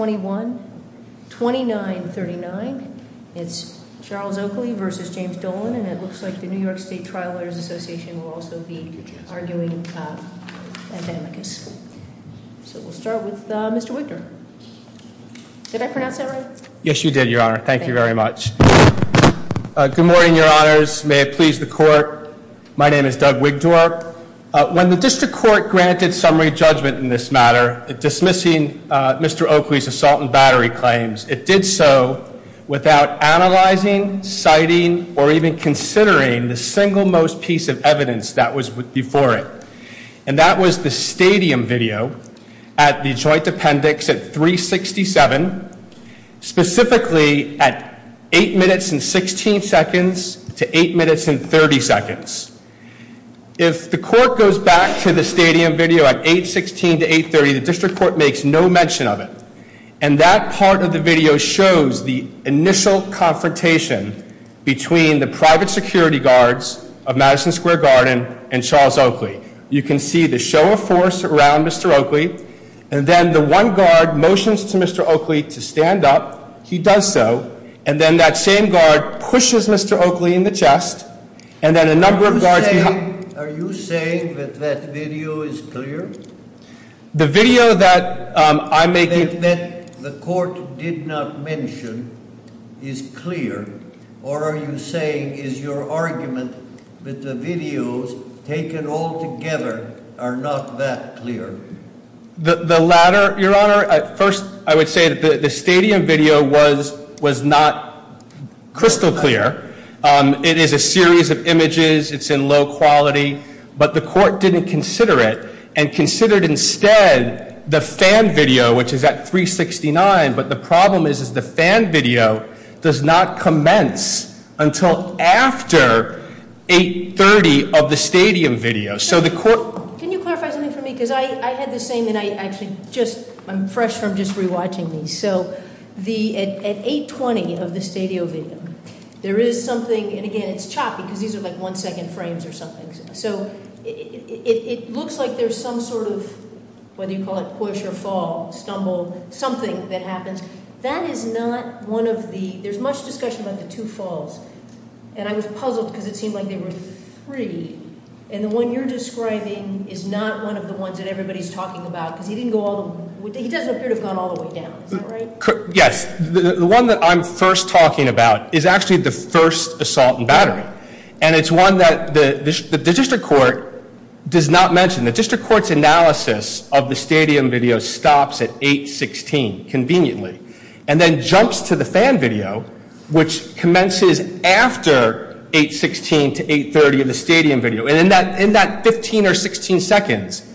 21 2939 it's Charles Oakley versus James Dolan and it looks like the New York State Trial Lawyers Association will also be arguing. So we'll start with Mr. Wigdor. Did I pronounce that right? Yes you did your honor. Thank you very much. Good morning your honors. May it please the court. My name is Doug Wigdor. When the district court granted summary judgment in this matter dismissing Mr. Oakley's assault and battery claims it did so without analyzing citing or even considering the single most piece of evidence that was before it and that was the stadium video at the joint appendix at 367 specifically at 8 minutes and 16 seconds to 8 minutes and 30 seconds. If the court goes back to the stadium video at 8.16 to 8.30 the district court makes no mention of it and that part of the video shows the initial confrontation between the private security guards of Madison Square Garden and Charles Oakley. You can see the show of force around Mr. Oakley and then the one guard motions to Mr. Oakley to stand up. He does so and then that same guard pushes Mr. Oakley in the chest and then a number of guards... Are you saying that that video is clear? The video that I'm making... That the court did not mention is clear or are you saying is your argument that the videos taken all together are not that clear? The latter your honor at first I would say that the stadium video was was not crystal clear. It is a series of images it's in low quality but the court didn't consider it and considered instead the fan video which is at 369 but the problem is is the fan video does not commence until after 8.30 of the stadium video so the court... Can you clarify something for me because I had the same and I actually just I'm fresh from just re-watching these so the at 8.20 of the stadium video there is something and these are like one second frames or something so it looks like there's some sort of whether you call it push or fall stumble something that happens that is not one of the there's much discussion about the two falls and I was puzzled because it seemed like they were three and the one you're describing is not one of the ones that everybody's talking about because he didn't go all the way down. Yes the one that I'm first talking about is actually the first assault in and it's one that the district court does not mention the district court's analysis of the stadium video stops at 8.16 conveniently and then jumps to the fan video which commences after 8.16 to 8.30 of the stadium video and in that in that 15 or 16 seconds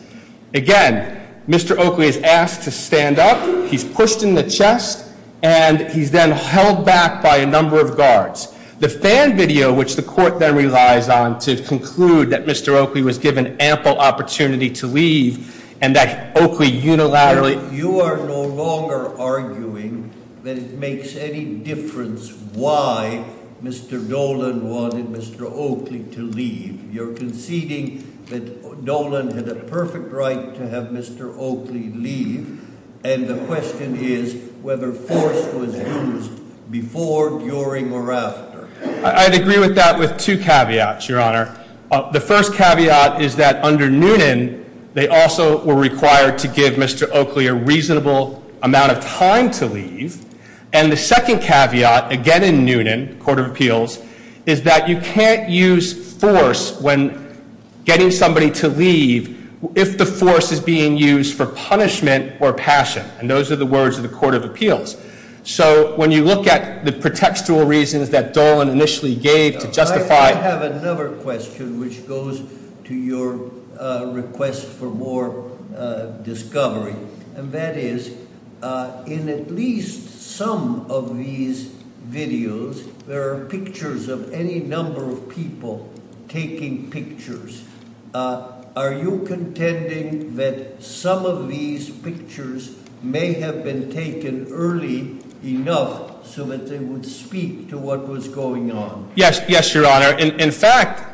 again Mr. Oakley is asked to stand up he's pushed in the desk and he's then held back by a number of guards. The fan video which the court then relies on to conclude that Mr. Oakley was given ample opportunity to leave and that Oakley unilaterally. You are no longer arguing that it makes any difference why Mr. Dolan wanted Mr. Oakley to leave. You're conceding that Dolan had a perfect right to have Mr. Oakley leave and the whether force was used before during or after. I'd agree with that with two caveats your honor. The first caveat is that under Noonan they also were required to give Mr. Oakley a reasonable amount of time to leave and the second caveat again in Noonan Court of Appeals is that you can't use force when getting somebody to leave if the force is being used for punishment or passion and those are the words of the Court of Appeals. So when you look at the pretextual reasons that Dolan initially gave to justify. I have another question which goes to your request for more discovery and that is in at least some of these videos there are pictures of any number of people taking pictures. Are you intending that some of these pictures may have been taken early enough so that they would speak to what was going on? Yes, yes your honor. In fact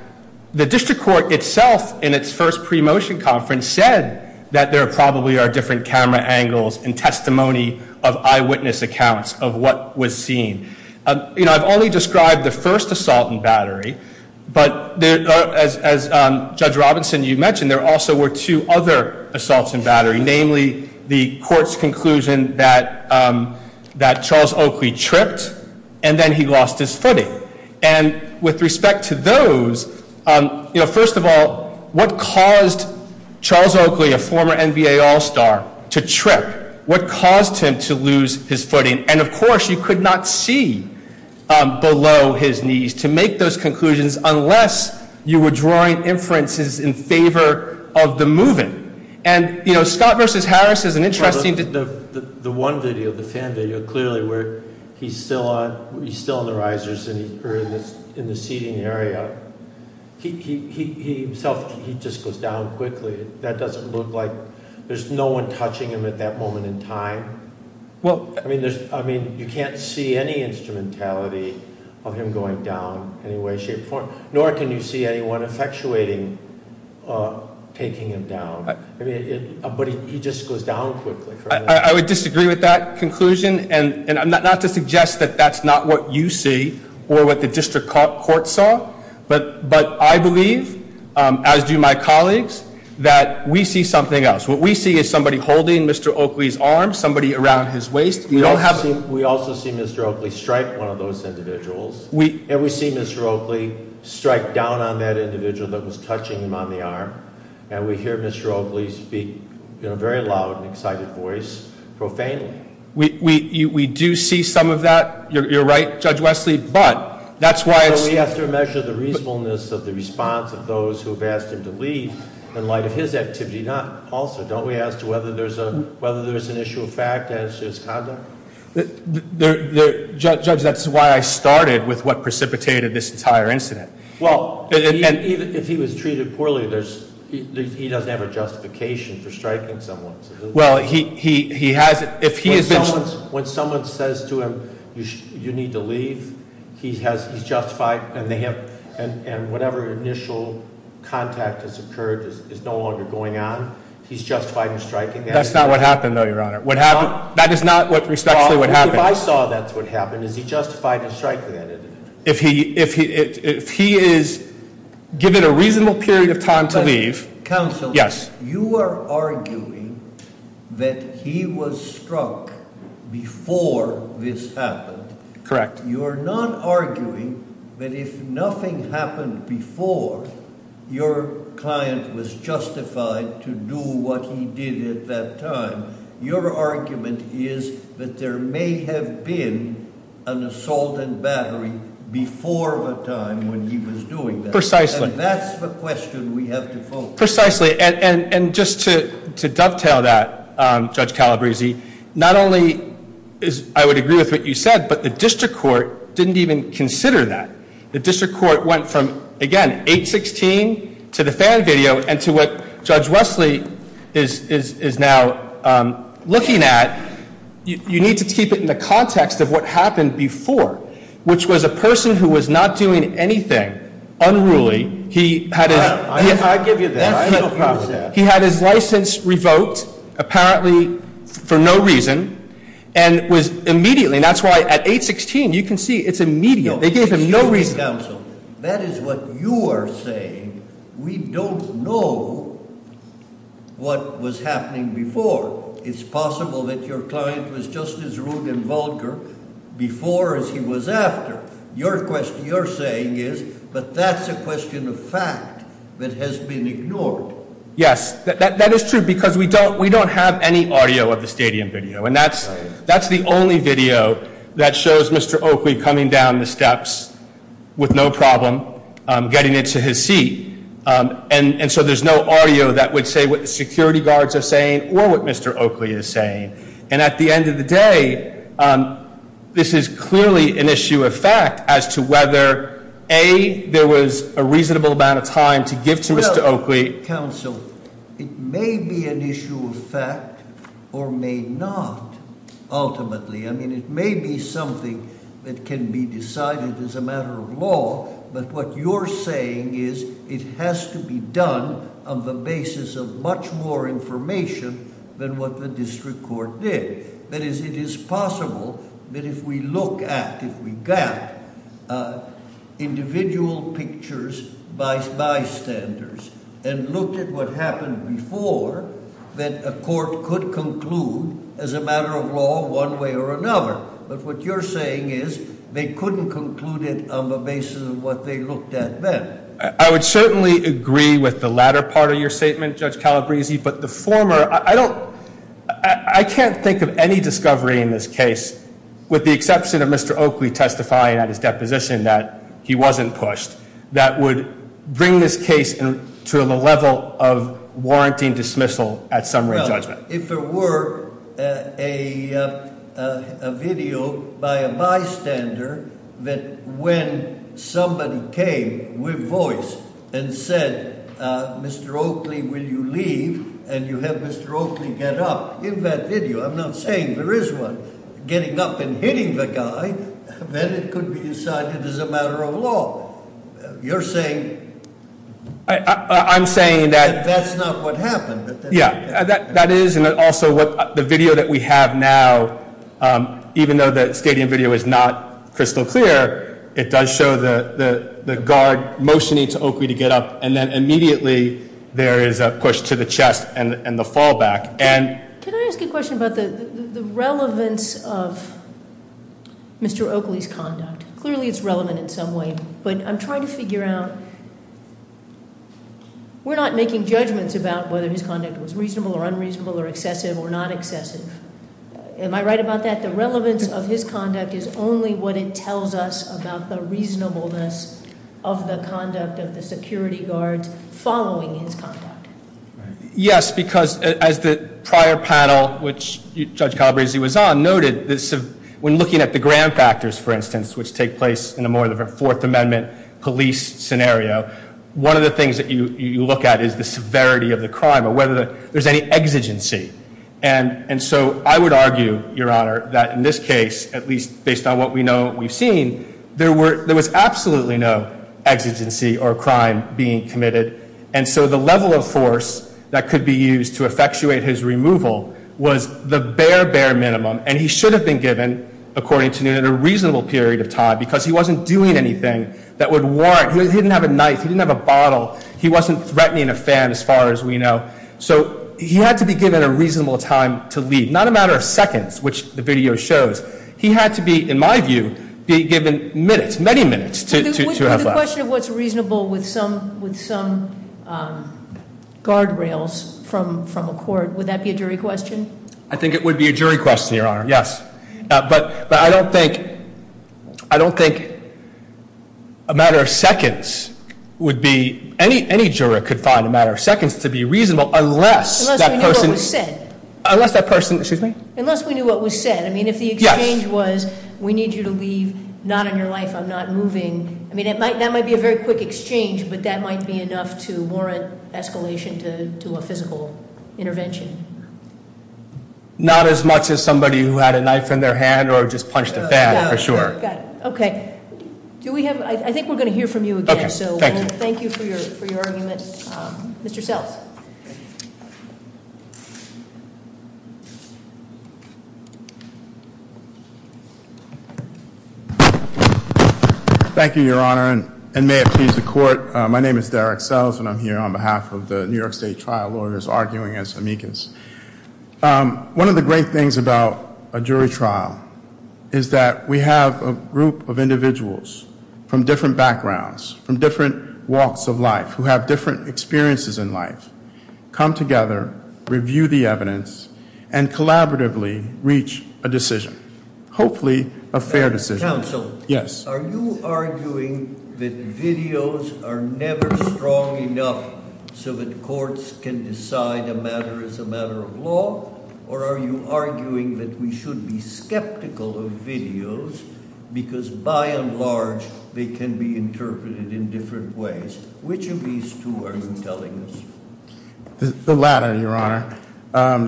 the District Court itself in its first pre-motion conference said that there probably are different camera angles and testimony of eyewitness accounts of what was seen. You know I've only described the first assault and battery but there as Judge Robinson you mentioned there also were two other assaults and battery namely the court's conclusion that that Charles Oakley tripped and then he lost his footing and with respect to those you know first of all what caused Charles Oakley a former NBA all-star to trip what caused him to lose his footing and of course you could not see below his knees to make those conclusions unless you were drawing inferences in favor of the moving and you know Scott versus Harris is an interesting... The one video, the fan video clearly where he's still on he's still on the risers and he's in the seating area he himself he just goes down quickly that doesn't look like there's no one touching him at that moment in time well I mean there's I mean you can't see any instrumentality of him going down in any way shape or form nor can you see anyone effectuating taking him down but he just goes down quickly. I would disagree with that conclusion and and I'm not to suggest that that's not what you see or what the district court saw but but I believe as do my colleagues that we see something else what we see is somebody holding Mr. Oakley's arm somebody around his waist you don't have... We also see Mr. Oakley strike one of those individuals we and we see Mr. Oakley strike down on that individual that was touching him on the arm and we hear Mr. Oakley speak in a very loud and excited voice profanely. We do see some of that you're right Judge Wesley but that's why... We have to measure the reasonableness of the response of those who have asked him to leave in light of his activity not also don't we ask to whether there's a whether there's an issue of fact as his conduct? Judge that's why I started with what precipitated this entire incident. Well if he was treated poorly there's he doesn't have a justification for striking someone. Well he has it if he is... When someone says to him you need to leave he has justified and they have and whatever initial contact has occurred is no longer going on he's justified in striking. That's not what happened though your honor what happened that is not what respectfully what happened. If I saw that's what happened is he justified in striking that individual. If he if he is given a reasonable period of time to leave. Counsel yes you are arguing that he was struck before this happened. Correct. You are not arguing that if nothing happened before your client was justified to do what he did at that time. Your argument is that there may have been an assault and battery before the time when he was doing that. Precisely. That's the question we have to focus on. Precisely and and and just to dovetail that Judge Calabresi not only is I would agree with what you said but the district court didn't even consider that. The district court went from again 816 to the fan video and to what Judge Wesley is is is now looking at. You need to keep it in the context of what happened before which was a person who was not doing anything unruly. He had his license revoked apparently for no reason and was immediately and that's why at 816 you can see it's immediate. They gave him no reason. That is what you are saying. We don't know what was happening before. It's possible that your client was just as rude and vulgar before as he was after. Your question you're saying is but that's a question of fact that has been ignored. Yes that is true because we don't we don't have any audio of the stadium video and that's that's the only video that shows Mr. Oakley coming down the steps with no problem getting into his seat and and so there's no audio that would say what the security guards are saying or what Mr. Oakley is saying and at the end of the day this is clearly an issue of fact as to whether a there was a reasonable amount of time to give to Mr. Oakley. Counsel it may be an issue of fact or may not ultimately. I mean it may be something that can be decided as a matter of law but what you're saying is it has to be done on the basis of much more information than what the district court did. That is it is possible that if we look at if we got individual pictures by bystanders and looked at what happened before that a court could conclude as a matter of law one way or another but what you're saying is they couldn't conclude it on the basis of what they looked at then. I would certainly agree with the latter part of your statement Judge Calabresi but the former I don't I can't think of any discovery in this case with the exception of Mr. Oakley testifying at his deposition that he wasn't pushed that would bring this case and to the level of warranting dismissal at some rate judgment. If there were a video by a bystander that when somebody came with voice and said Mr. Oakley will you leave and you have Mr. Oakley get up in that video I'm not saying there is one getting up and hitting the guy then it would be decided as a matter of law. You're saying. I'm saying that that's not what happened. Yeah that that is and also what the video that we have now even though the stadium video is not crystal clear it does show the the the guard motioning to Oakley to get up and then immediately there is a push to the chest and and the fallback and. Can I ask a question about the relevance of Mr. Oakley's conduct? Clearly it's relevant in some way but I'm trying to figure out we're not making judgments about whether his conduct was reasonable or unreasonable or excessive or not excessive. Am I right about that? The relevance of his conduct is only what it tells us about the reasonableness of the conduct of the security guards following his conduct. Yes because as the prior panel which Judge Calabresi was on noted this when looking at the Graham factors for take place in a more of a Fourth Amendment police scenario one of the things that you you look at is the severity of the crime or whether there's any exigency and and so I would argue your honor that in this case at least based on what we know we've seen there were there was absolutely no exigency or crime being committed and so the level of force that could be used to effectuate his removal was the bare bare minimum and he should have been given according to noon in a reasonable period of time because he wasn't doing anything that would warrant he didn't have a knife he didn't have a bottle he wasn't threatening a fan as far as we know so he had to be given a reasonable time to leave not a matter of seconds which the video shows he had to be in my view be given minutes many minutes to question what's reasonable with some with some guardrails from from a court would that be a jury question I think it I don't think I don't think a matter of seconds would be any any juror could find a matter of seconds to be reasonable unless that person said unless that person excuse me unless we knew what was said I mean if the exchange was we need you to leave not in your life I'm not moving I mean it might that might be a very quick exchange but that might be enough to warrant escalation to do a physical intervention not as much as somebody who had a knife in their hand or just punched a fan for sure okay do we have I think we're going to hear from you again so thank you for your for your argument mr. cells thank you your honor and may it please the court my name is Derek cells and I'm here on behalf of the New York State trial lawyers arguing as amicus one of the great things about a jury trial is that we have a group of individuals from different backgrounds from different walks of life who have different experiences in life come together review the evidence and collaboratively reach a decision hopefully a fair decision so yes are you arguing that videos are strong enough so that courts can decide a matter is a matter of law or are you arguing that we should be skeptical of videos because by and large they can be interpreted in different ways which of these two are you telling us the latter your honor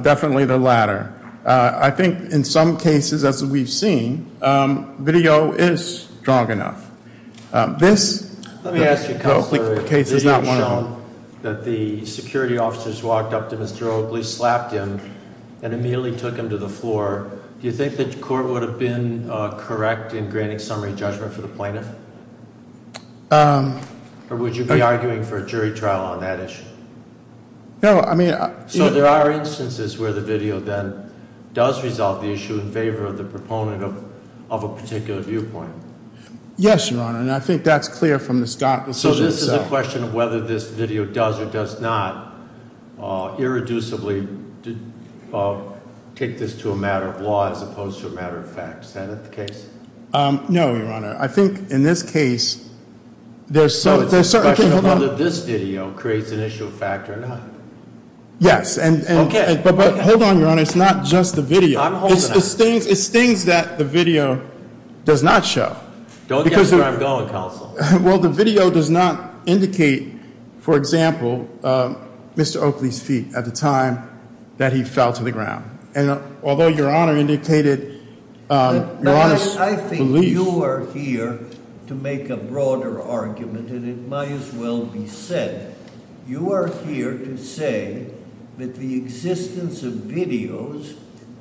definitely the latter I think in some cases as we've seen video is strong enough this that the security officers walked up to mr. Oakley slapped him and immediately took him to the floor do you think that court would have been correct in granting summary judgment for the plaintiff or would you be arguing for a jury trial on that issue no I mean so there are instances where the video then does resolve the issue in favor of the proponent of of a yes your honor and I think that's clear from the Scott so this is a question of whether this video does or does not irreducibly did take this to a matter of law as opposed to a matter of fact Senate the case no your honor I think in this case there's so there's certainly a lot of this video creates an issue of fact or not yes and okay but but hold on your honor it's not just the video I'm going well the video does not indicate for example mr. Oakley's feet at the time that he fell to the ground and although your honor indicated I think you are here to make a broader argument and it might as well be said you are here to say that the existence of videos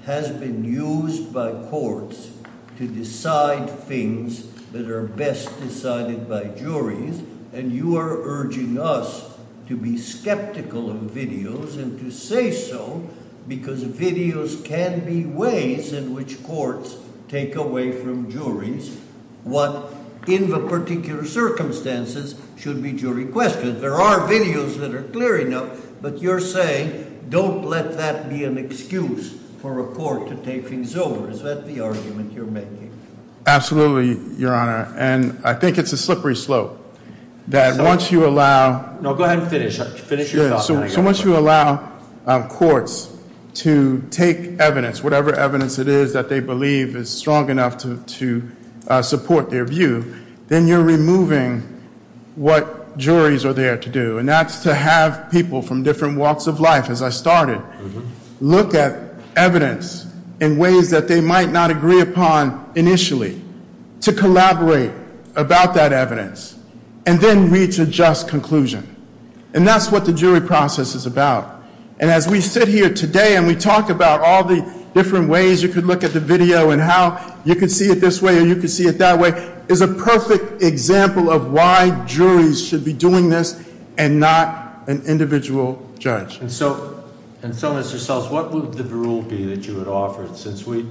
has been used by courts to decide things that are best decided by juries and you are urging us to be skeptical of videos and to say so because videos can be ways in which courts take away from juries what in the particular circumstances should be jury questions there are videos that are clear enough but you're saying don't let that be an excuse for a your honor and I think it's a slippery slope that once you allow courts to take evidence whatever evidence it is that they believe is strong enough to to support their view then you're removing what juries are there to do and that's to have people from different walks of life as I started look at evidence in to collaborate about that evidence and then reach a just conclusion and that's what the jury process is about and as we sit here today and we talked about all the different ways you can look at the video and how you can see it this way you can see it that way is a perfect example of why juries should be doing this and not an individual judge and so and so as yourselves what would the rule be that you would offer since we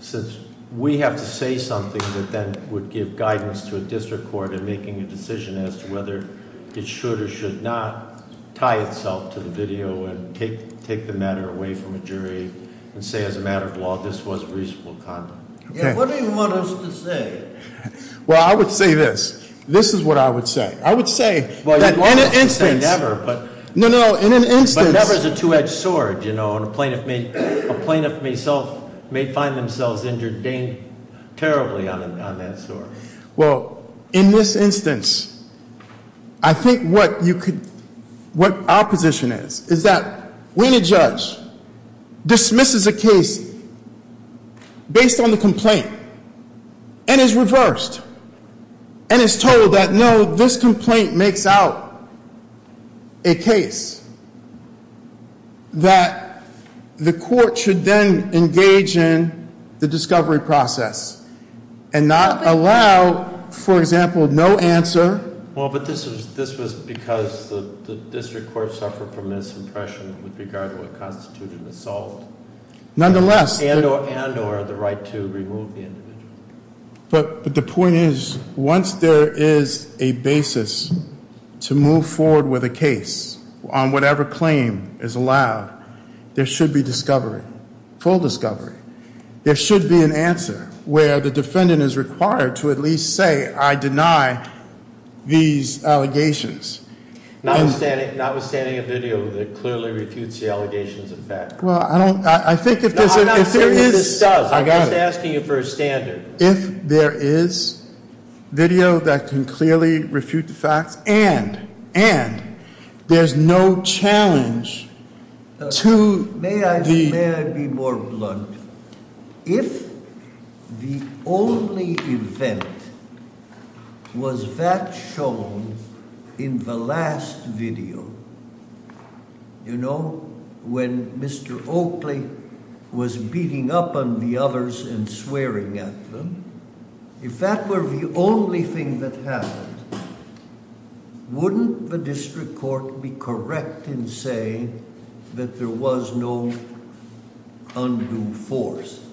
since we have to say something that then would give guidance to a district court in making a decision as to whether it should or should not tie itself to the video and take take the matter away from a jury and say as a matter of law this was reasonable condom. What do you want us to say? well I would say this this is what I would say I would say well in an instance say never but no no in an instance never is a two-edged sword you know a plaintiff may a plaintiff may self may find themselves injured terribly on that sword. Well in this instance I think what you could what our position is is that when a judge dismisses a case based on the complaint and is reversed and is told that no this complaint makes out a case that the court should then engage in the discovery process and not allow for example no answer. Well but this was this was because the district court suffered from misimpression with regard to what constituted assault. Nonetheless and or the right to remove the individual. But the point is once there is a basis to move forward with a case on whatever claim is allowed there should be discovery full discovery there should be an answer where the defendant is required to at least say I deny these allegations. Notwithstanding a video that clearly refutes the allegations of fact. Well I don't I think if there is I got asking you for a standard. If there is video that can clearly refute the facts and and there's no challenge to. May I be more blunt if the only event was that shown in the last video you know when Mr. Oakley was beating up on the others and swearing at them. If that were the only thing that happened wouldn't the district court be correct in saying that there was no undue force.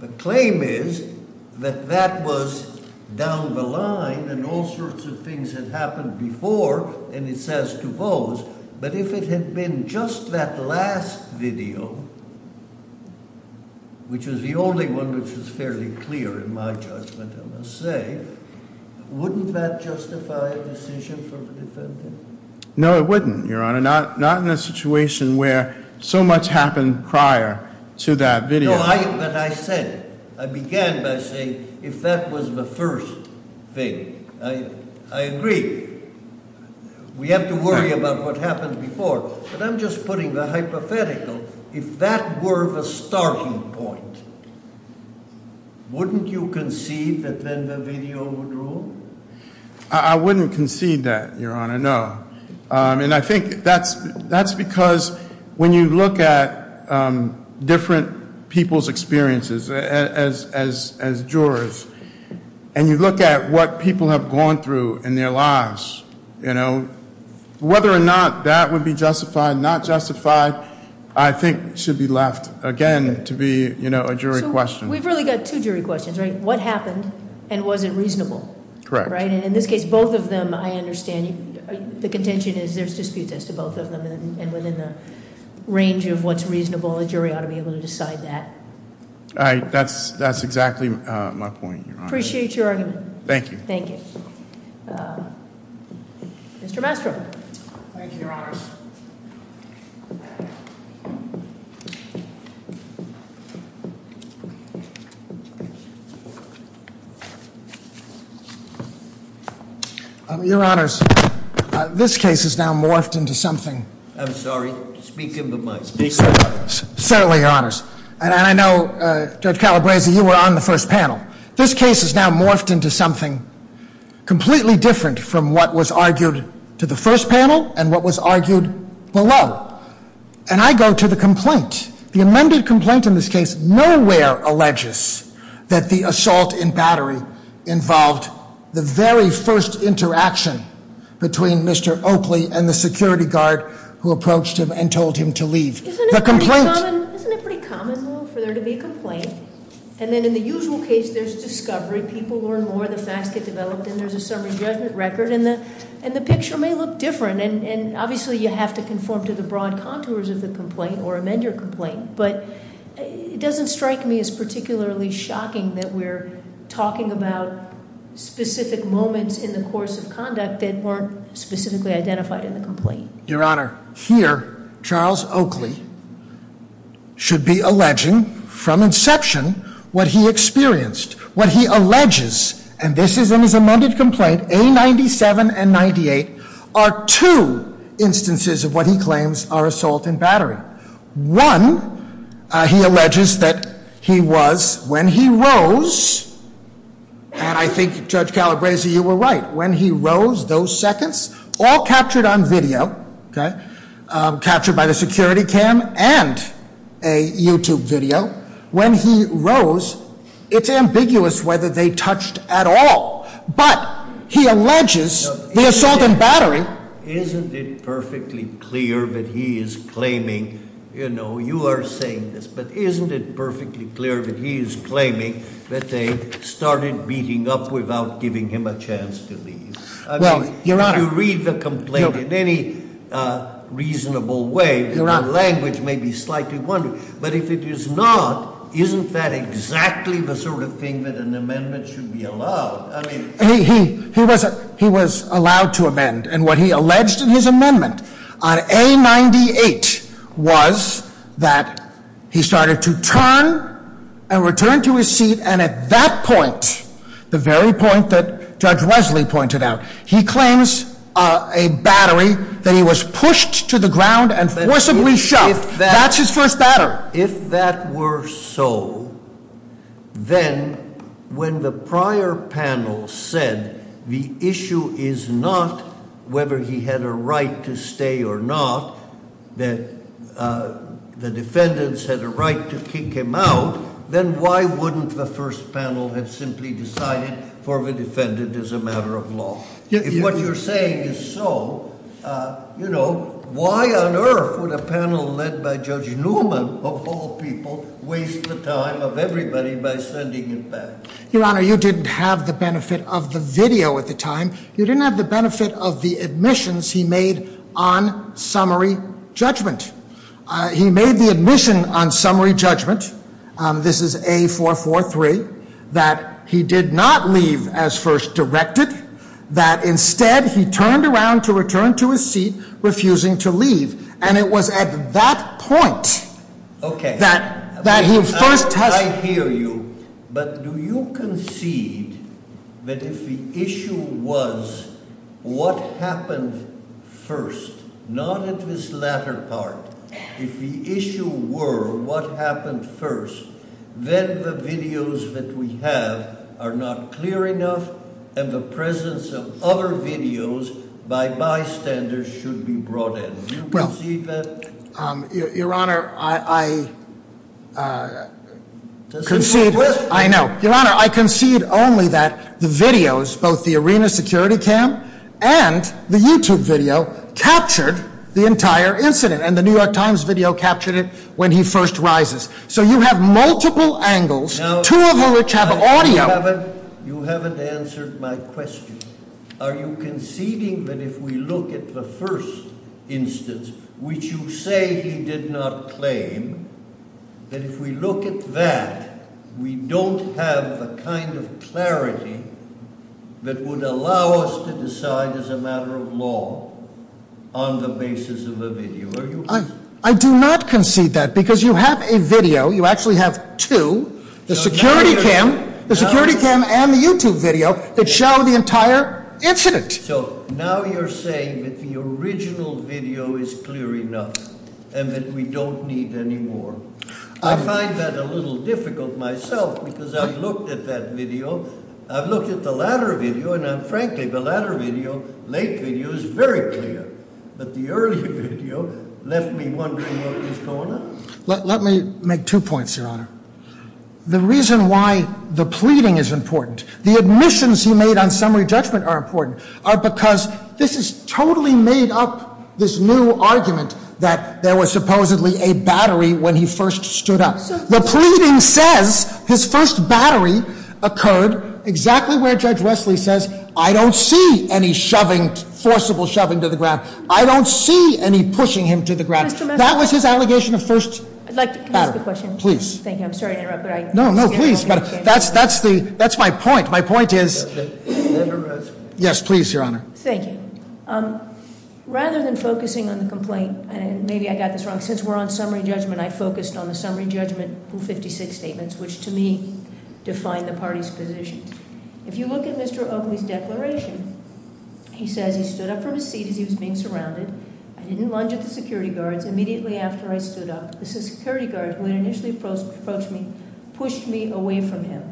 The claim is that that was down the line and all sorts of things that happened before and it says to those but if it had been just that last video which is the only one which is fairly clear in my judgment I must say wouldn't that justify a decision for the defendant? No it wouldn't your honor not not in a prior to that video. No but I said I began by saying if that was the first thing I agree we have to worry about what happened before but I'm just putting the hypothetical if that were the starting point wouldn't you concede that then the video would rule? I wouldn't concede that your honor no and I think that's that's because when you look at different people's experiences as jurors and you look at what people have gone through in their lives you know whether or not that would be justified not justified I think should be left again to be you know a jury question. We've really got two jury questions right what happened and was it reasonable? Correct. Right and in this case both of them I understand the contention is there's range of what's reasonable a jury ought to be able to decide that. Right that's that's exactly my point your honor. Appreciate your argument. Thank you. Thank you. Mr. Mastro. Thank you your honors. Your honors this case is now morphed into something. I'm sorry speak into the mic. Certainly your honors and I know Judge Calabresi you were on the first panel. This case is now morphed into something completely different from what was argued to the first panel and what was argued below and I go to the complaint. The amended complaint in this case nowhere alleges that the assault in battery involved the very first interaction between Mr. Oakley and the security guard who approached him and told him to leave. The complaint. Isn't it pretty common for there to be a complaint and then in the usual case there's discovery people learn more the facts get developed and there's a summary judgment record in the and the picture may look different and obviously you have to conform to the broad contours of the complaint or amend your complaint but it doesn't strike me as particularly shocking that we're talking about specific moments in the course of conduct that weren't specifically identified in the complaint. Your honor here Charles Oakley should be alleging from inception what he experienced what he alleges and this is in his amended complaint A97 and 98 are two instances of what he claims are assault in battery. One he alleges that he was when he rose and I think Judge Calabresi you were right when he rose those seconds all captured on video captured by the security cam and a YouTube video when he rose it's ambiguous whether they touched at all but he alleges the assault in battery. Isn't it perfectly clear that he is claiming you know you are saying this but isn't it perfectly clear that he is claiming that they started beating up without giving him a chance to leave. Well you're not going to read the complaint in any reasonable way you're not language may be slightly one but if it is not isn't that exactly the sort of thing that an amendment should be allowed. He was he was allowed to amend and what he alleged in his amendment on A98 was that he started to turn and return to his seat and at that point the very point that Judge Wesley pointed out he claims a battery that he was pushed to the ground and forcibly shoved that's his first batter. If that were so then when the prior panel said the issue is not whether he had a right to stay or not that the defendants had a right to kick him out then why wouldn't the first panel have simply decided for the defendant is a matter of law. If what you're saying is so you know why on earth would a panel led by Judge Newman of all people waste the time of everybody by sending it back. Your Honor you didn't have the benefit of the video at the time you didn't have the benefit of the admissions he made on summary judgment. He made the admission on summary judgment. This is a four four three that he did not leave as first directed that instead he turned around to return to his seat refusing to leave and it was at that point that that he first. I hear you but do you concede that if the issue was what happened first not at this latter part if the issue were what happened first then the videos that we have are not clear enough and the presence of other videos by bystanders should be brought in. Well, Your Honor, I concede, I know. Your Honor, I concede only that the videos, both the arena security cam and the YouTube video captured the entire incident and the New York Times video captured it when he first rises. So you have multiple angles, two of which have audio. You haven't answered my question. Are you conceding that if we look at the first instance, which you say he did not claim, that if we look at that, we don't have the kind of clarity that would allow us to decide as a matter of law on the basis of a video. Are you- I do not concede that because you have a video, you actually have two. The security cam and the YouTube video that show the entire incident. So now you're saying that the original video is clear enough and that we don't need any more. I find that a little difficult myself because I've looked at that video. I've looked at the latter video and frankly the latter video, late video, is very clear. But the earlier video left me wondering what was going on. Let me make two points, your honor. The reason why the pleading is important, the admissions he made on summary judgment are important, are because this is totally made up, this new argument, that there was supposedly a battery when he first stood up. The pleading says his first battery occurred exactly where Judge Wesley says, I don't see any forcible shoving to the ground, I don't see any pushing him to the ground. That was his allegation of first battery. I'd like to ask a question. Please. Thank you, I'm sorry to interrupt, but I- No, no, please, but that's my point. My point is- Yes, please, your honor. Thank you. Rather than focusing on the complaint, and maybe I got this wrong, since we're on summary judgment, I focused on the summary judgment rule 56 statements, which to me define the party's position. If you look at Mr. Oakley's declaration, he says he stood up from his seat as he was being surrounded. I didn't lunge at the security guards immediately after I stood up. The security guard, who had initially approached me, pushed me away from him.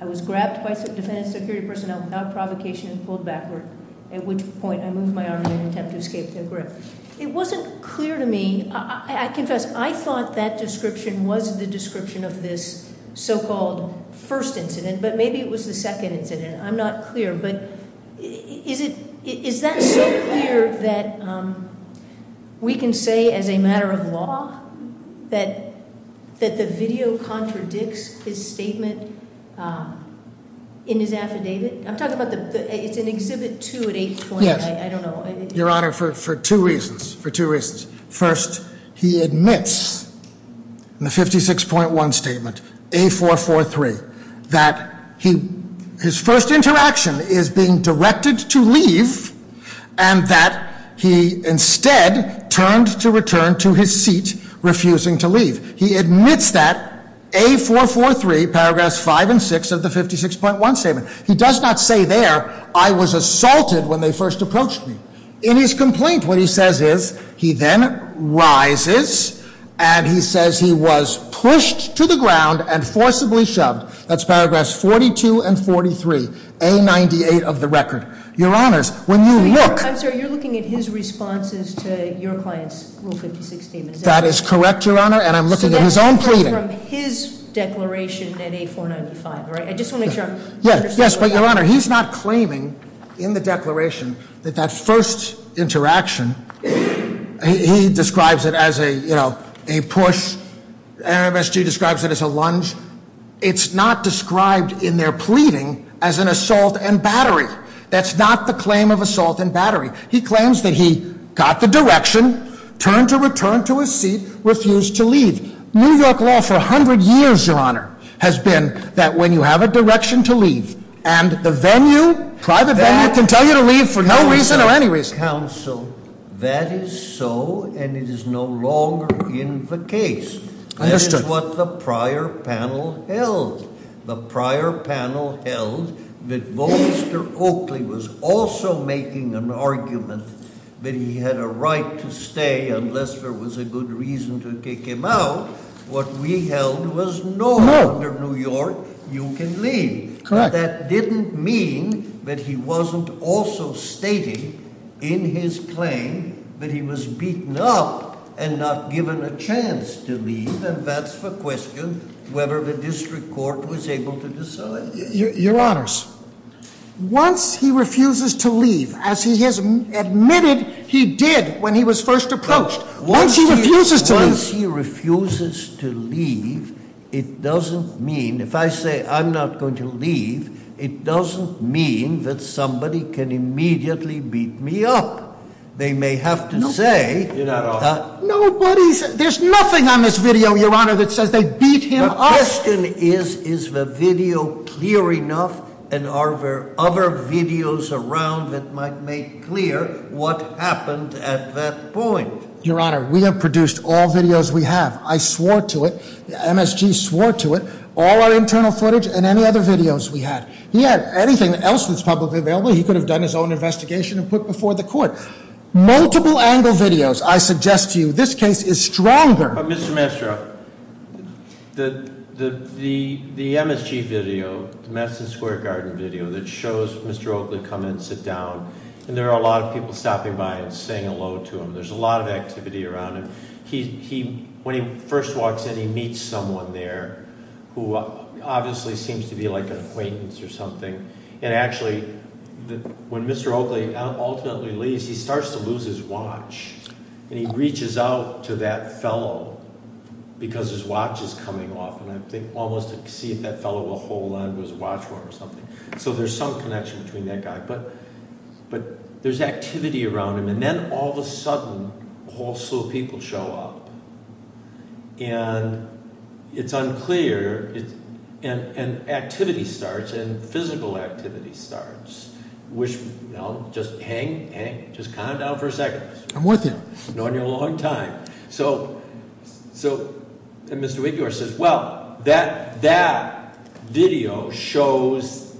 I was grabbed by some defense security personnel without provocation and pulled backward, at which point I moved my arm in an attempt to escape their grip. It wasn't clear to me, I confess, I thought that description was the description of this so-called first incident, but maybe it was the second incident. I'm not clear, but is that so clear that we can say as a matter of law that the video contradicts his statement in his affidavit? I'm talking about the, it's in exhibit two at 820, I don't know. Your honor, for two reasons, for two reasons. First, he admits in the 56.1 statement, A443, that his first interaction is being directed to leave and that he instead turned to return to his seat, refusing to leave. He admits that, A443, paragraphs five and six of the 56.1 statement. He does not say there, I was assaulted when they first approached me. In his complaint, what he says is, he then rises and he says he was pushed to the ground and forcibly shoved. That's paragraphs 42 and 43, A98 of the record. Your honors, when you look- I'm sorry, you're looking at his responses to your client's rule 56 statement. That is correct, your honor, and I'm looking at his own pleading. So that's different from his declaration at A495, right? I just want to make sure I'm- Yes, yes, but your honor, he's not claiming in the declaration that that first interaction, he describes it as a push, MSG describes it as a lunge. It's not described in their pleading as an assault and battery. That's not the claim of assault and battery. He claims that he got the direction, turned to return to his seat, refused to leave. New York law for 100 years, your honor, has been that when you have a direction to leave and the venue, private venue, can tell you to leave for no reason or any reason. Counsel, that is so and it is no longer in the case. That is what the prior panel held. The prior panel held that Volster Oakley was also making an argument that he had a right to stay unless there was a good reason to kick him out. What we held was no longer New York, you can leave. But that didn't mean that he wasn't also stating in his claim that he was beaten up and not given a chance to leave. And that's the question whether the district court was able to decide. Your honors, once he refuses to leave, as he has admitted he did when he was first approached. Once he refuses to leave. Once he refuses to leave, it doesn't mean, if I say I'm not going to leave, it doesn't mean that somebody can immediately beat me up. They may have to say- You're not off. Nobody's, there's nothing on this video, your honor, that says they beat him up. The question is, is the video clear enough and are there other videos around that might make clear what happened at that point? Your honor, we have produced all videos we have. I swore to it, MSG swore to it, all our internal footage and any other videos we had. He had anything else that's publicly available, he could have done his own investigation and put before the court. Multiple angle videos, I suggest to you, this case is stronger. But Mr. Maestro, the MSG video, Madison Square Garden video that shows Mr. Oakley come in and sit down. And there are a lot of people stopping by and saying hello to him. There's a lot of activity around him. When he first walks in, he meets someone there who obviously seems to be like an acquaintance or something. And actually, when Mr. Oakley ultimately leaves, he starts to lose his watch. And he reaches out to that fellow because his watch is coming off. And I think almost to see if that fellow will hold on to his watch for him or something. So there's some connection between that guy. But there's activity around him. And then all of a sudden, also people show up. And it's unclear, and activity starts, and physical activity starts. Which, no, just hang, hang, just calm down for a second. I'm with you. I've known you a long time. So, and Mr. Wiggler says, well, that video shows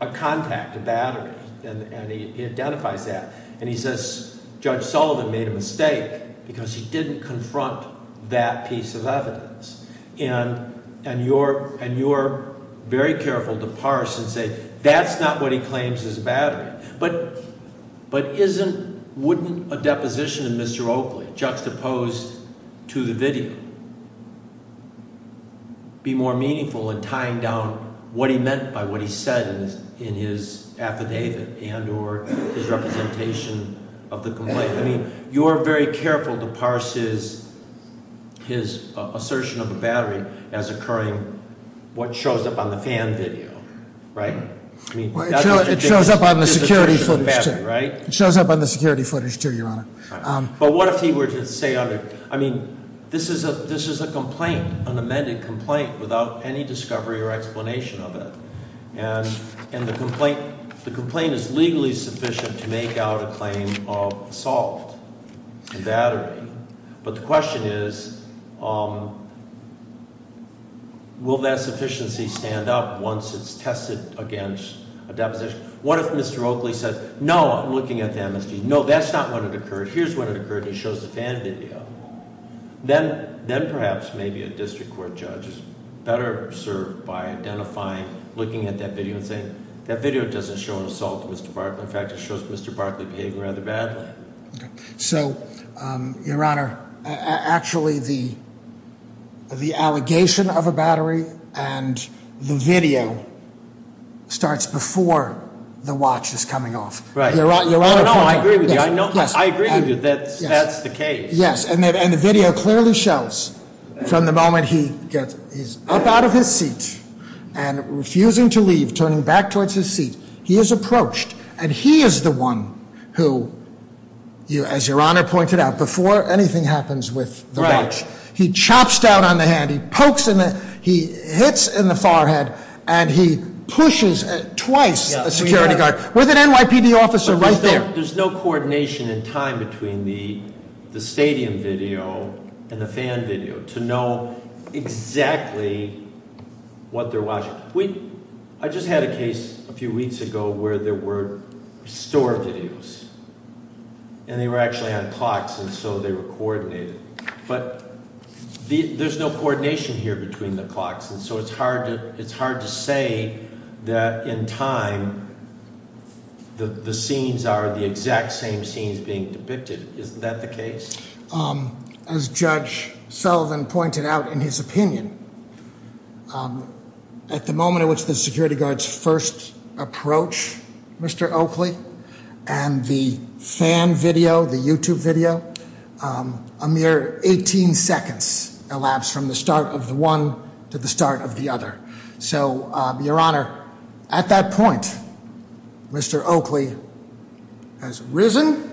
a contact, a battery, and he identifies that. And he says, Judge Sullivan made a mistake because he didn't confront that piece of evidence. And you're very careful to parse and say, that's not what he claims is a battery. But isn't, wouldn't a deposition of Mr. Oakley juxtaposed to the video? Be more meaningful in tying down what he meant by what he said in his affidavit and or his representation of the complaint. I mean, you're very careful to parse his assertion of a battery as occurring. What shows up on the fan video, right? I mean, that's ridiculous. It shows up on the security footage too, right? It shows up on the security footage too, Your Honor. But what if he were to say, I mean, this is a complaint, an amended complaint without any discovery or explanation of it. And the complaint is legally sufficient to make out a claim of assault and battery. But the question is, will that sufficiency stand up once it's tested against a deposition? What if Mr. Oakley said, no, I'm looking at the MSD. No, that's not when it occurred. Here's when it occurred. He shows the fan video. Then perhaps maybe a district court judge is better served by identifying, looking at that video and saying, that video doesn't show an assault to Mr. Barkley. In fact, it shows Mr. Barkley behaving rather badly. So, Your Honor, actually the allegation of a battery and the video starts before the watch is coming off. Your Honor, I agree with you, I agree with you, that's the case. Yes, and the video clearly shows from the moment he's up out of his seat and refusing to leave, turning back towards his seat, he is approached. And he is the one who, as Your Honor pointed out, before anything happens with the watch, he chops down on the hand, he hits in the forehead, and he pushes twice a security guard with an NYPD officer right there. There's no coordination in time between the stadium video and the fan video to know exactly what they're watching. I just had a case a few weeks ago where there were store videos, and they were actually on clocks, and so they were coordinated, but there's no coordination here between the clocks. And so it's hard to say that in time, the scenes are the exact same scenes being depicted. Isn't that the case? As Judge Sullivan pointed out in his opinion, at the moment at which the security guards first approach Mr. Oakley and the fan video, the YouTube video, a mere 18 seconds elapsed from the start of the one to the start of the other. So, Your Honor, at that point, Mr. Oakley has risen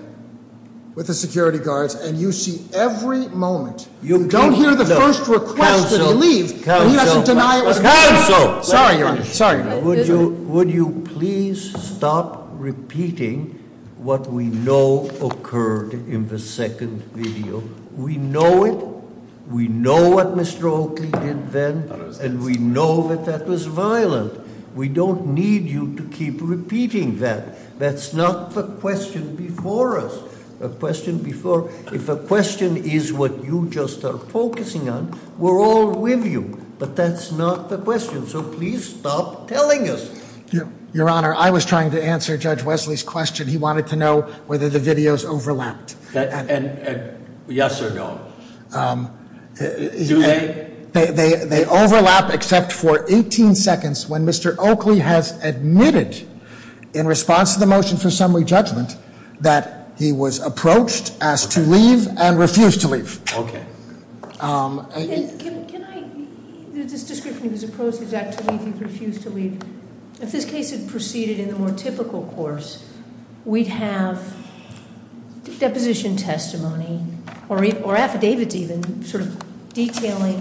with the security guards, and you see every moment. You don't hear the first request when he leaves, but he doesn't deny it with a- Counsel! Sorry, Your Honor, sorry. Would you please stop repeating what we know occurred in the second video? We know it, we know what Mr. Oakley did then, and we know that that was violent. We don't need you to keep repeating that. That's not the question before us. The question before, if a question is what you just are focusing on, we're all with you. But that's not the question, so please stop telling us. Your Honor, I was trying to answer Judge Wesley's question. He wanted to know whether the videos overlapped. And yes or no. They overlap except for 18 seconds when Mr. Oakley has admitted, in response to the motion for summary judgment, that he was approached, asked to leave, and refused to leave. Okay. Can I, this description of his approach is that to leave, he refused to leave. If this case had proceeded in the more typical course, we'd have a deposition testimony, or affidavits even, sort of detailing,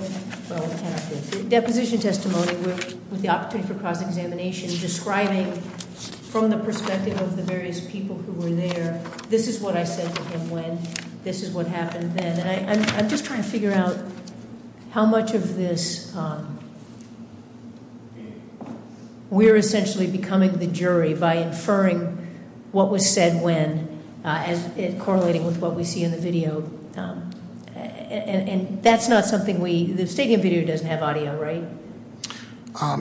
well we cannot do this. Deposition testimony with the opportunity for cross-examination, describing from the perspective of the various people who were there, this is what I said to him when, this is what happened then, and I'm just trying to figure out how much of this. We're essentially becoming the jury by inferring what was said when, as it correlating with what we see in the video. And that's not something we, the stadium video doesn't have audio, right?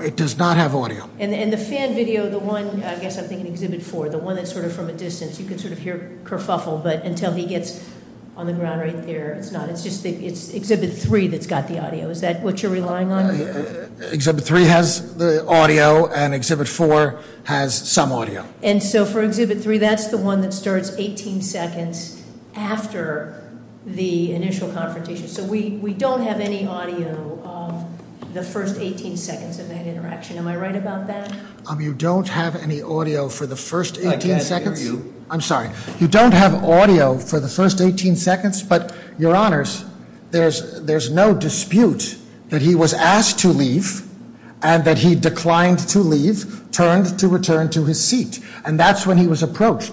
It does not have audio. And the fan video, the one, I guess I'm thinking exhibit four, the one that's sort of from a distance. You can sort of hear kerfuffle, but until he gets on the ground right there, it's not. It's just exhibit three that's got the audio. Is that what you're relying on? Exhibit three has the audio, and exhibit four has some audio. And so for exhibit three, that's the one that starts 18 seconds after the initial confrontation. So we don't have any audio of the first 18 seconds of that interaction. Am I right about that? You don't have any audio for the first 18 seconds? I can't hear you. I'm sorry, you don't have audio for the first 18 seconds? But your honors, there's no dispute that he was asked to leave, and that he declined to leave, turned to return to his seat. And that's when he was approached.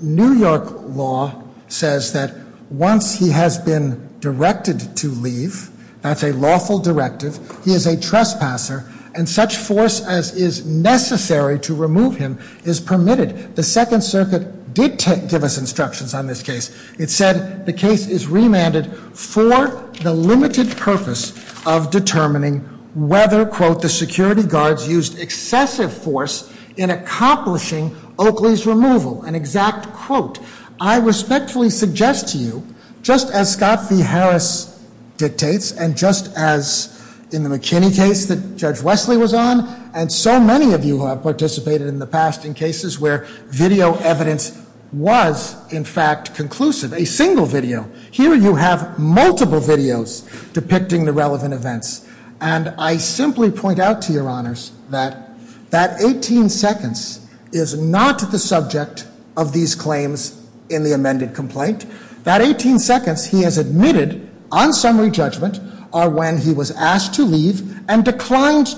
New York law says that once he has been directed to leave, that's a lawful directive, he is a trespasser, and such force as is necessary to remove him is permitted. The Second Circuit did give us instructions on this case. It said the case is remanded for the limited purpose of determining whether, quote, the security guards used excessive force in accomplishing Oakley's removal. An exact quote. I respectfully suggest to you, just as Scott V. Harris dictates, and just as in the McKinney case that Judge Wesley was on, and so many of you have participated in the past in cases where video evidence was, in fact, conclusive. A single video. Here you have multiple videos depicting the relevant events. And I simply point out to your honors that that 18 seconds is not the subject of these claims in the amended complaint. That 18 seconds he has admitted on summary judgment are when he was asked to leave and returned,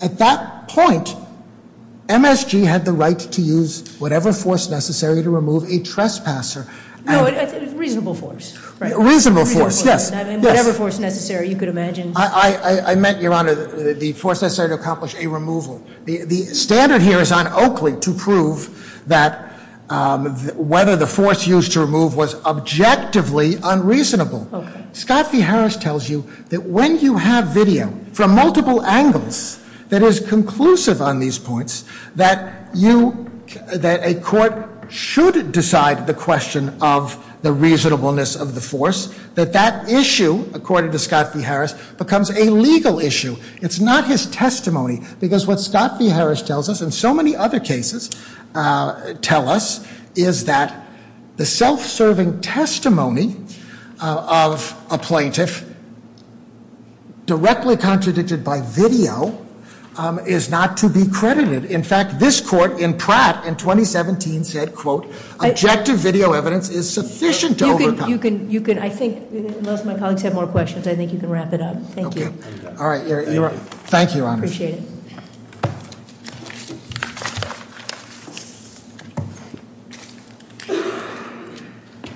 at that point MSG had the right to use whatever force necessary to remove a trespasser. No, a reasonable force, right? Reasonable force, yes, yes. Whatever force necessary, you could imagine. I meant, your honor, the force necessary to accomplish a removal. The standard here is on Oakley to prove that whether the force used to remove was objectively unreasonable. Scott V. Harris tells you that when you have video from multiple angles that is conclusive on these points, that a court should decide the question of the reasonableness of the force. That that issue, according to Scott V. Harris, becomes a legal issue. It's not his testimony, because what Scott V. Harris tells us, and so many other cases tell us, is that the self-serving testimony of a plaintiff directly contradicted by video is not to be credited. In fact, this court in Pratt in 2017 said, quote, objective video evidence is sufficient to overcome. You can, I think, unless my colleagues have more questions, I think you can wrap it up. Thank you. All right, thank you, your honor. Appreciate it.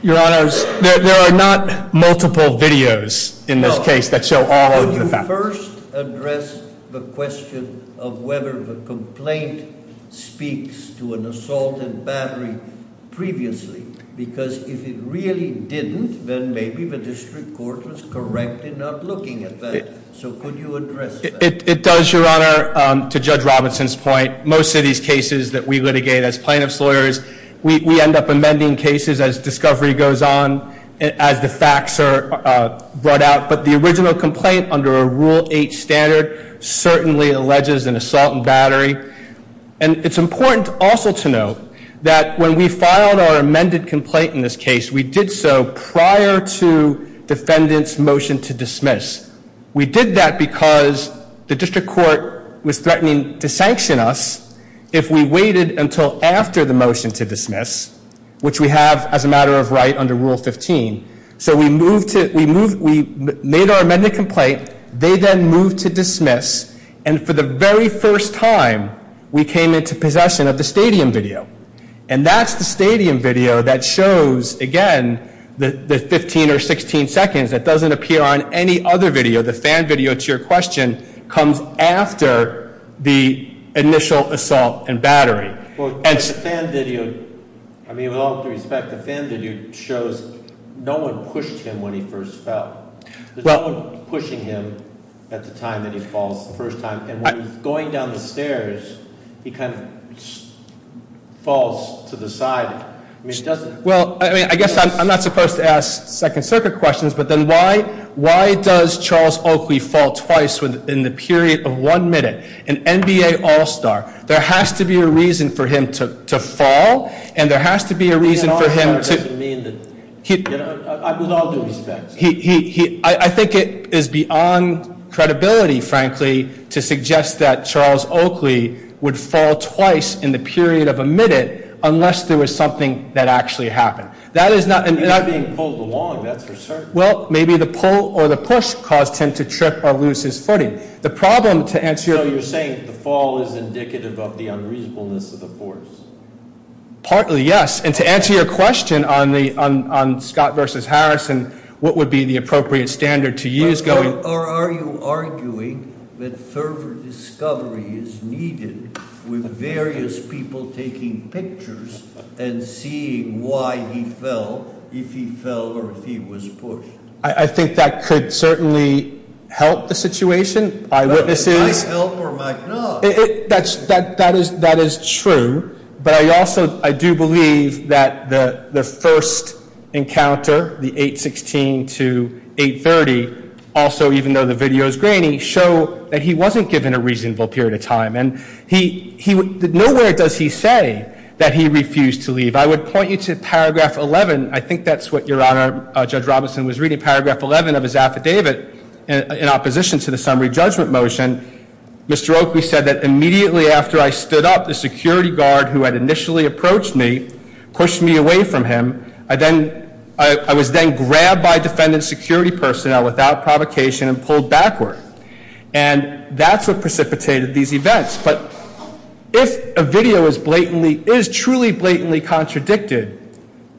Your honors, there are not multiple videos in this case that show all of the facts. Could you first address the question of whether the complaint speaks to an assaulted battery previously? Because if it really didn't, then maybe the district court was correctly not looking at that. So could you address that? It does, your honor, to Judge Robinson's point. Most of these cases that we litigate as plaintiff's lawyers, we end up amending cases as discovery goes on, as the facts are brought out. But the original complaint under a rule eight standard certainly alleges an assault and battery. And it's important also to note that when we filed our amended complaint in this case, we did so prior to defendant's motion to dismiss. We did that because the district court was threatening to sanction us if we waited until after the motion to dismiss, which we have as a matter of right under rule 15. So we made our amended complaint, they then moved to dismiss. And for the very first time, we came into possession of the stadium video. And that's the stadium video that shows, again, the 15 or 16 seconds that doesn't appear on any other video. The fan video, to your question, comes after the initial assault and battery. Well, the fan video, I mean, with all due respect, the fan video shows no one pushed him when he first fell. There's no one pushing him at the time that he falls the first time. And when he's going down the stairs, he kind of falls to the side. I mean, he doesn't- Well, I mean, I guess I'm not supposed to ask Second Circuit questions, but then why does Charles Oakley fall twice in the period of one minute? An NBA All-Star, there has to be a reason for him to fall, and there has to be a reason for him to- I mean, an All-Star doesn't mean that, with all due respect. I think it is beyond credibility, frankly, to suggest that Charles Oakley would fall twice in the period of a minute, unless there was something that actually happened. That is not- He's not being pulled along, that's for certain. Well, maybe the pull or the push caused him to trip or lose his footing. The problem, to answer your- So you're saying the fall is indicative of the unreasonableness of the force? Partly, yes. And to answer your question on Scott versus Harrison, what would be the appropriate standard to use going- And seeing why he fell, if he fell or if he was pushed. I think that could certainly help the situation. Eyewitnesses- I fell for my knowledge. That is true, but I also, I do believe that the first encounter, the 816 to 830, also even though the video is grainy, show that he wasn't given a reasonable period of time. And nowhere does he say that he refused to leave. I would point you to paragraph 11, I think that's what your honor, Judge Robinson was reading, paragraph 11 of his affidavit in opposition to the summary judgment motion. Mr. Oakley said that immediately after I stood up, the security guard who had initially approached me, pushed me away from him, I was then grabbed by defendant security personnel without provocation and pulled backward. And that's what precipitated these events, but if a video is blatantly, is truly blatantly contradicted,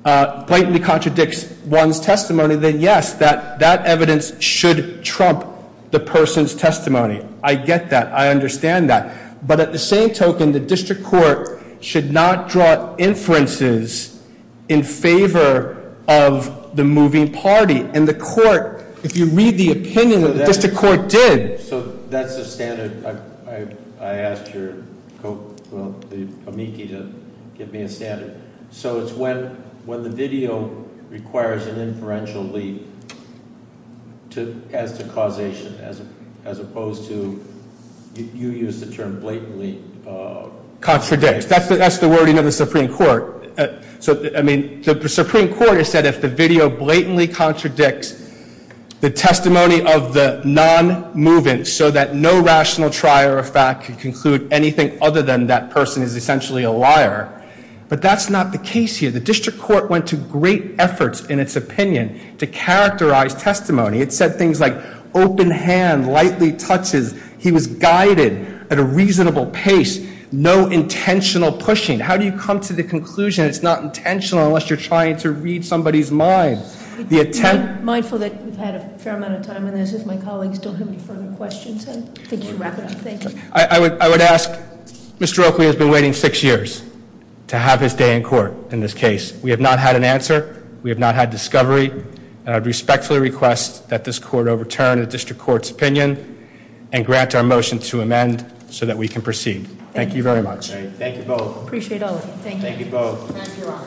blatantly contradicts one's testimony, then yes, that evidence should trump the person's testimony. I get that, I understand that. But at the same token, the district court should not draw inferences in favor of the moving party. And the court, if you read the opinion that the district court did. So that's the standard, I asked your, well, the amici to give me a standard. So it's when the video requires an inferential leap as to causation, as opposed to, you used the term blatantly. Contradicts, that's the wording of the Supreme Court. So, I mean, the Supreme Court has said if the video blatantly contradicts the testimony of the non-moving, so that no rational trier of fact can conclude anything other than that person is essentially a liar. But that's not the case here. The district court went to great efforts in its opinion to characterize testimony. It said things like open hand, lightly touches, he was guided at a reasonable pace, no intentional pushing. How do you come to the conclusion it's not intentional unless you're trying to read somebody's mind? The attempt- Mindful that we've had a fair amount of time on this, if my colleagues don't have any further questions, I think we should wrap it up, thank you. I would ask, Mr. Oakley has been waiting six years to have his day in court in this case. We have not had an answer, we have not had discovery. And I respectfully request that this court overturn the district court's opinion and grant our motion to amend so that we can proceed. Thank you very much. Thank you both. Appreciate all of you, thank you. Thank you both. Thank you all.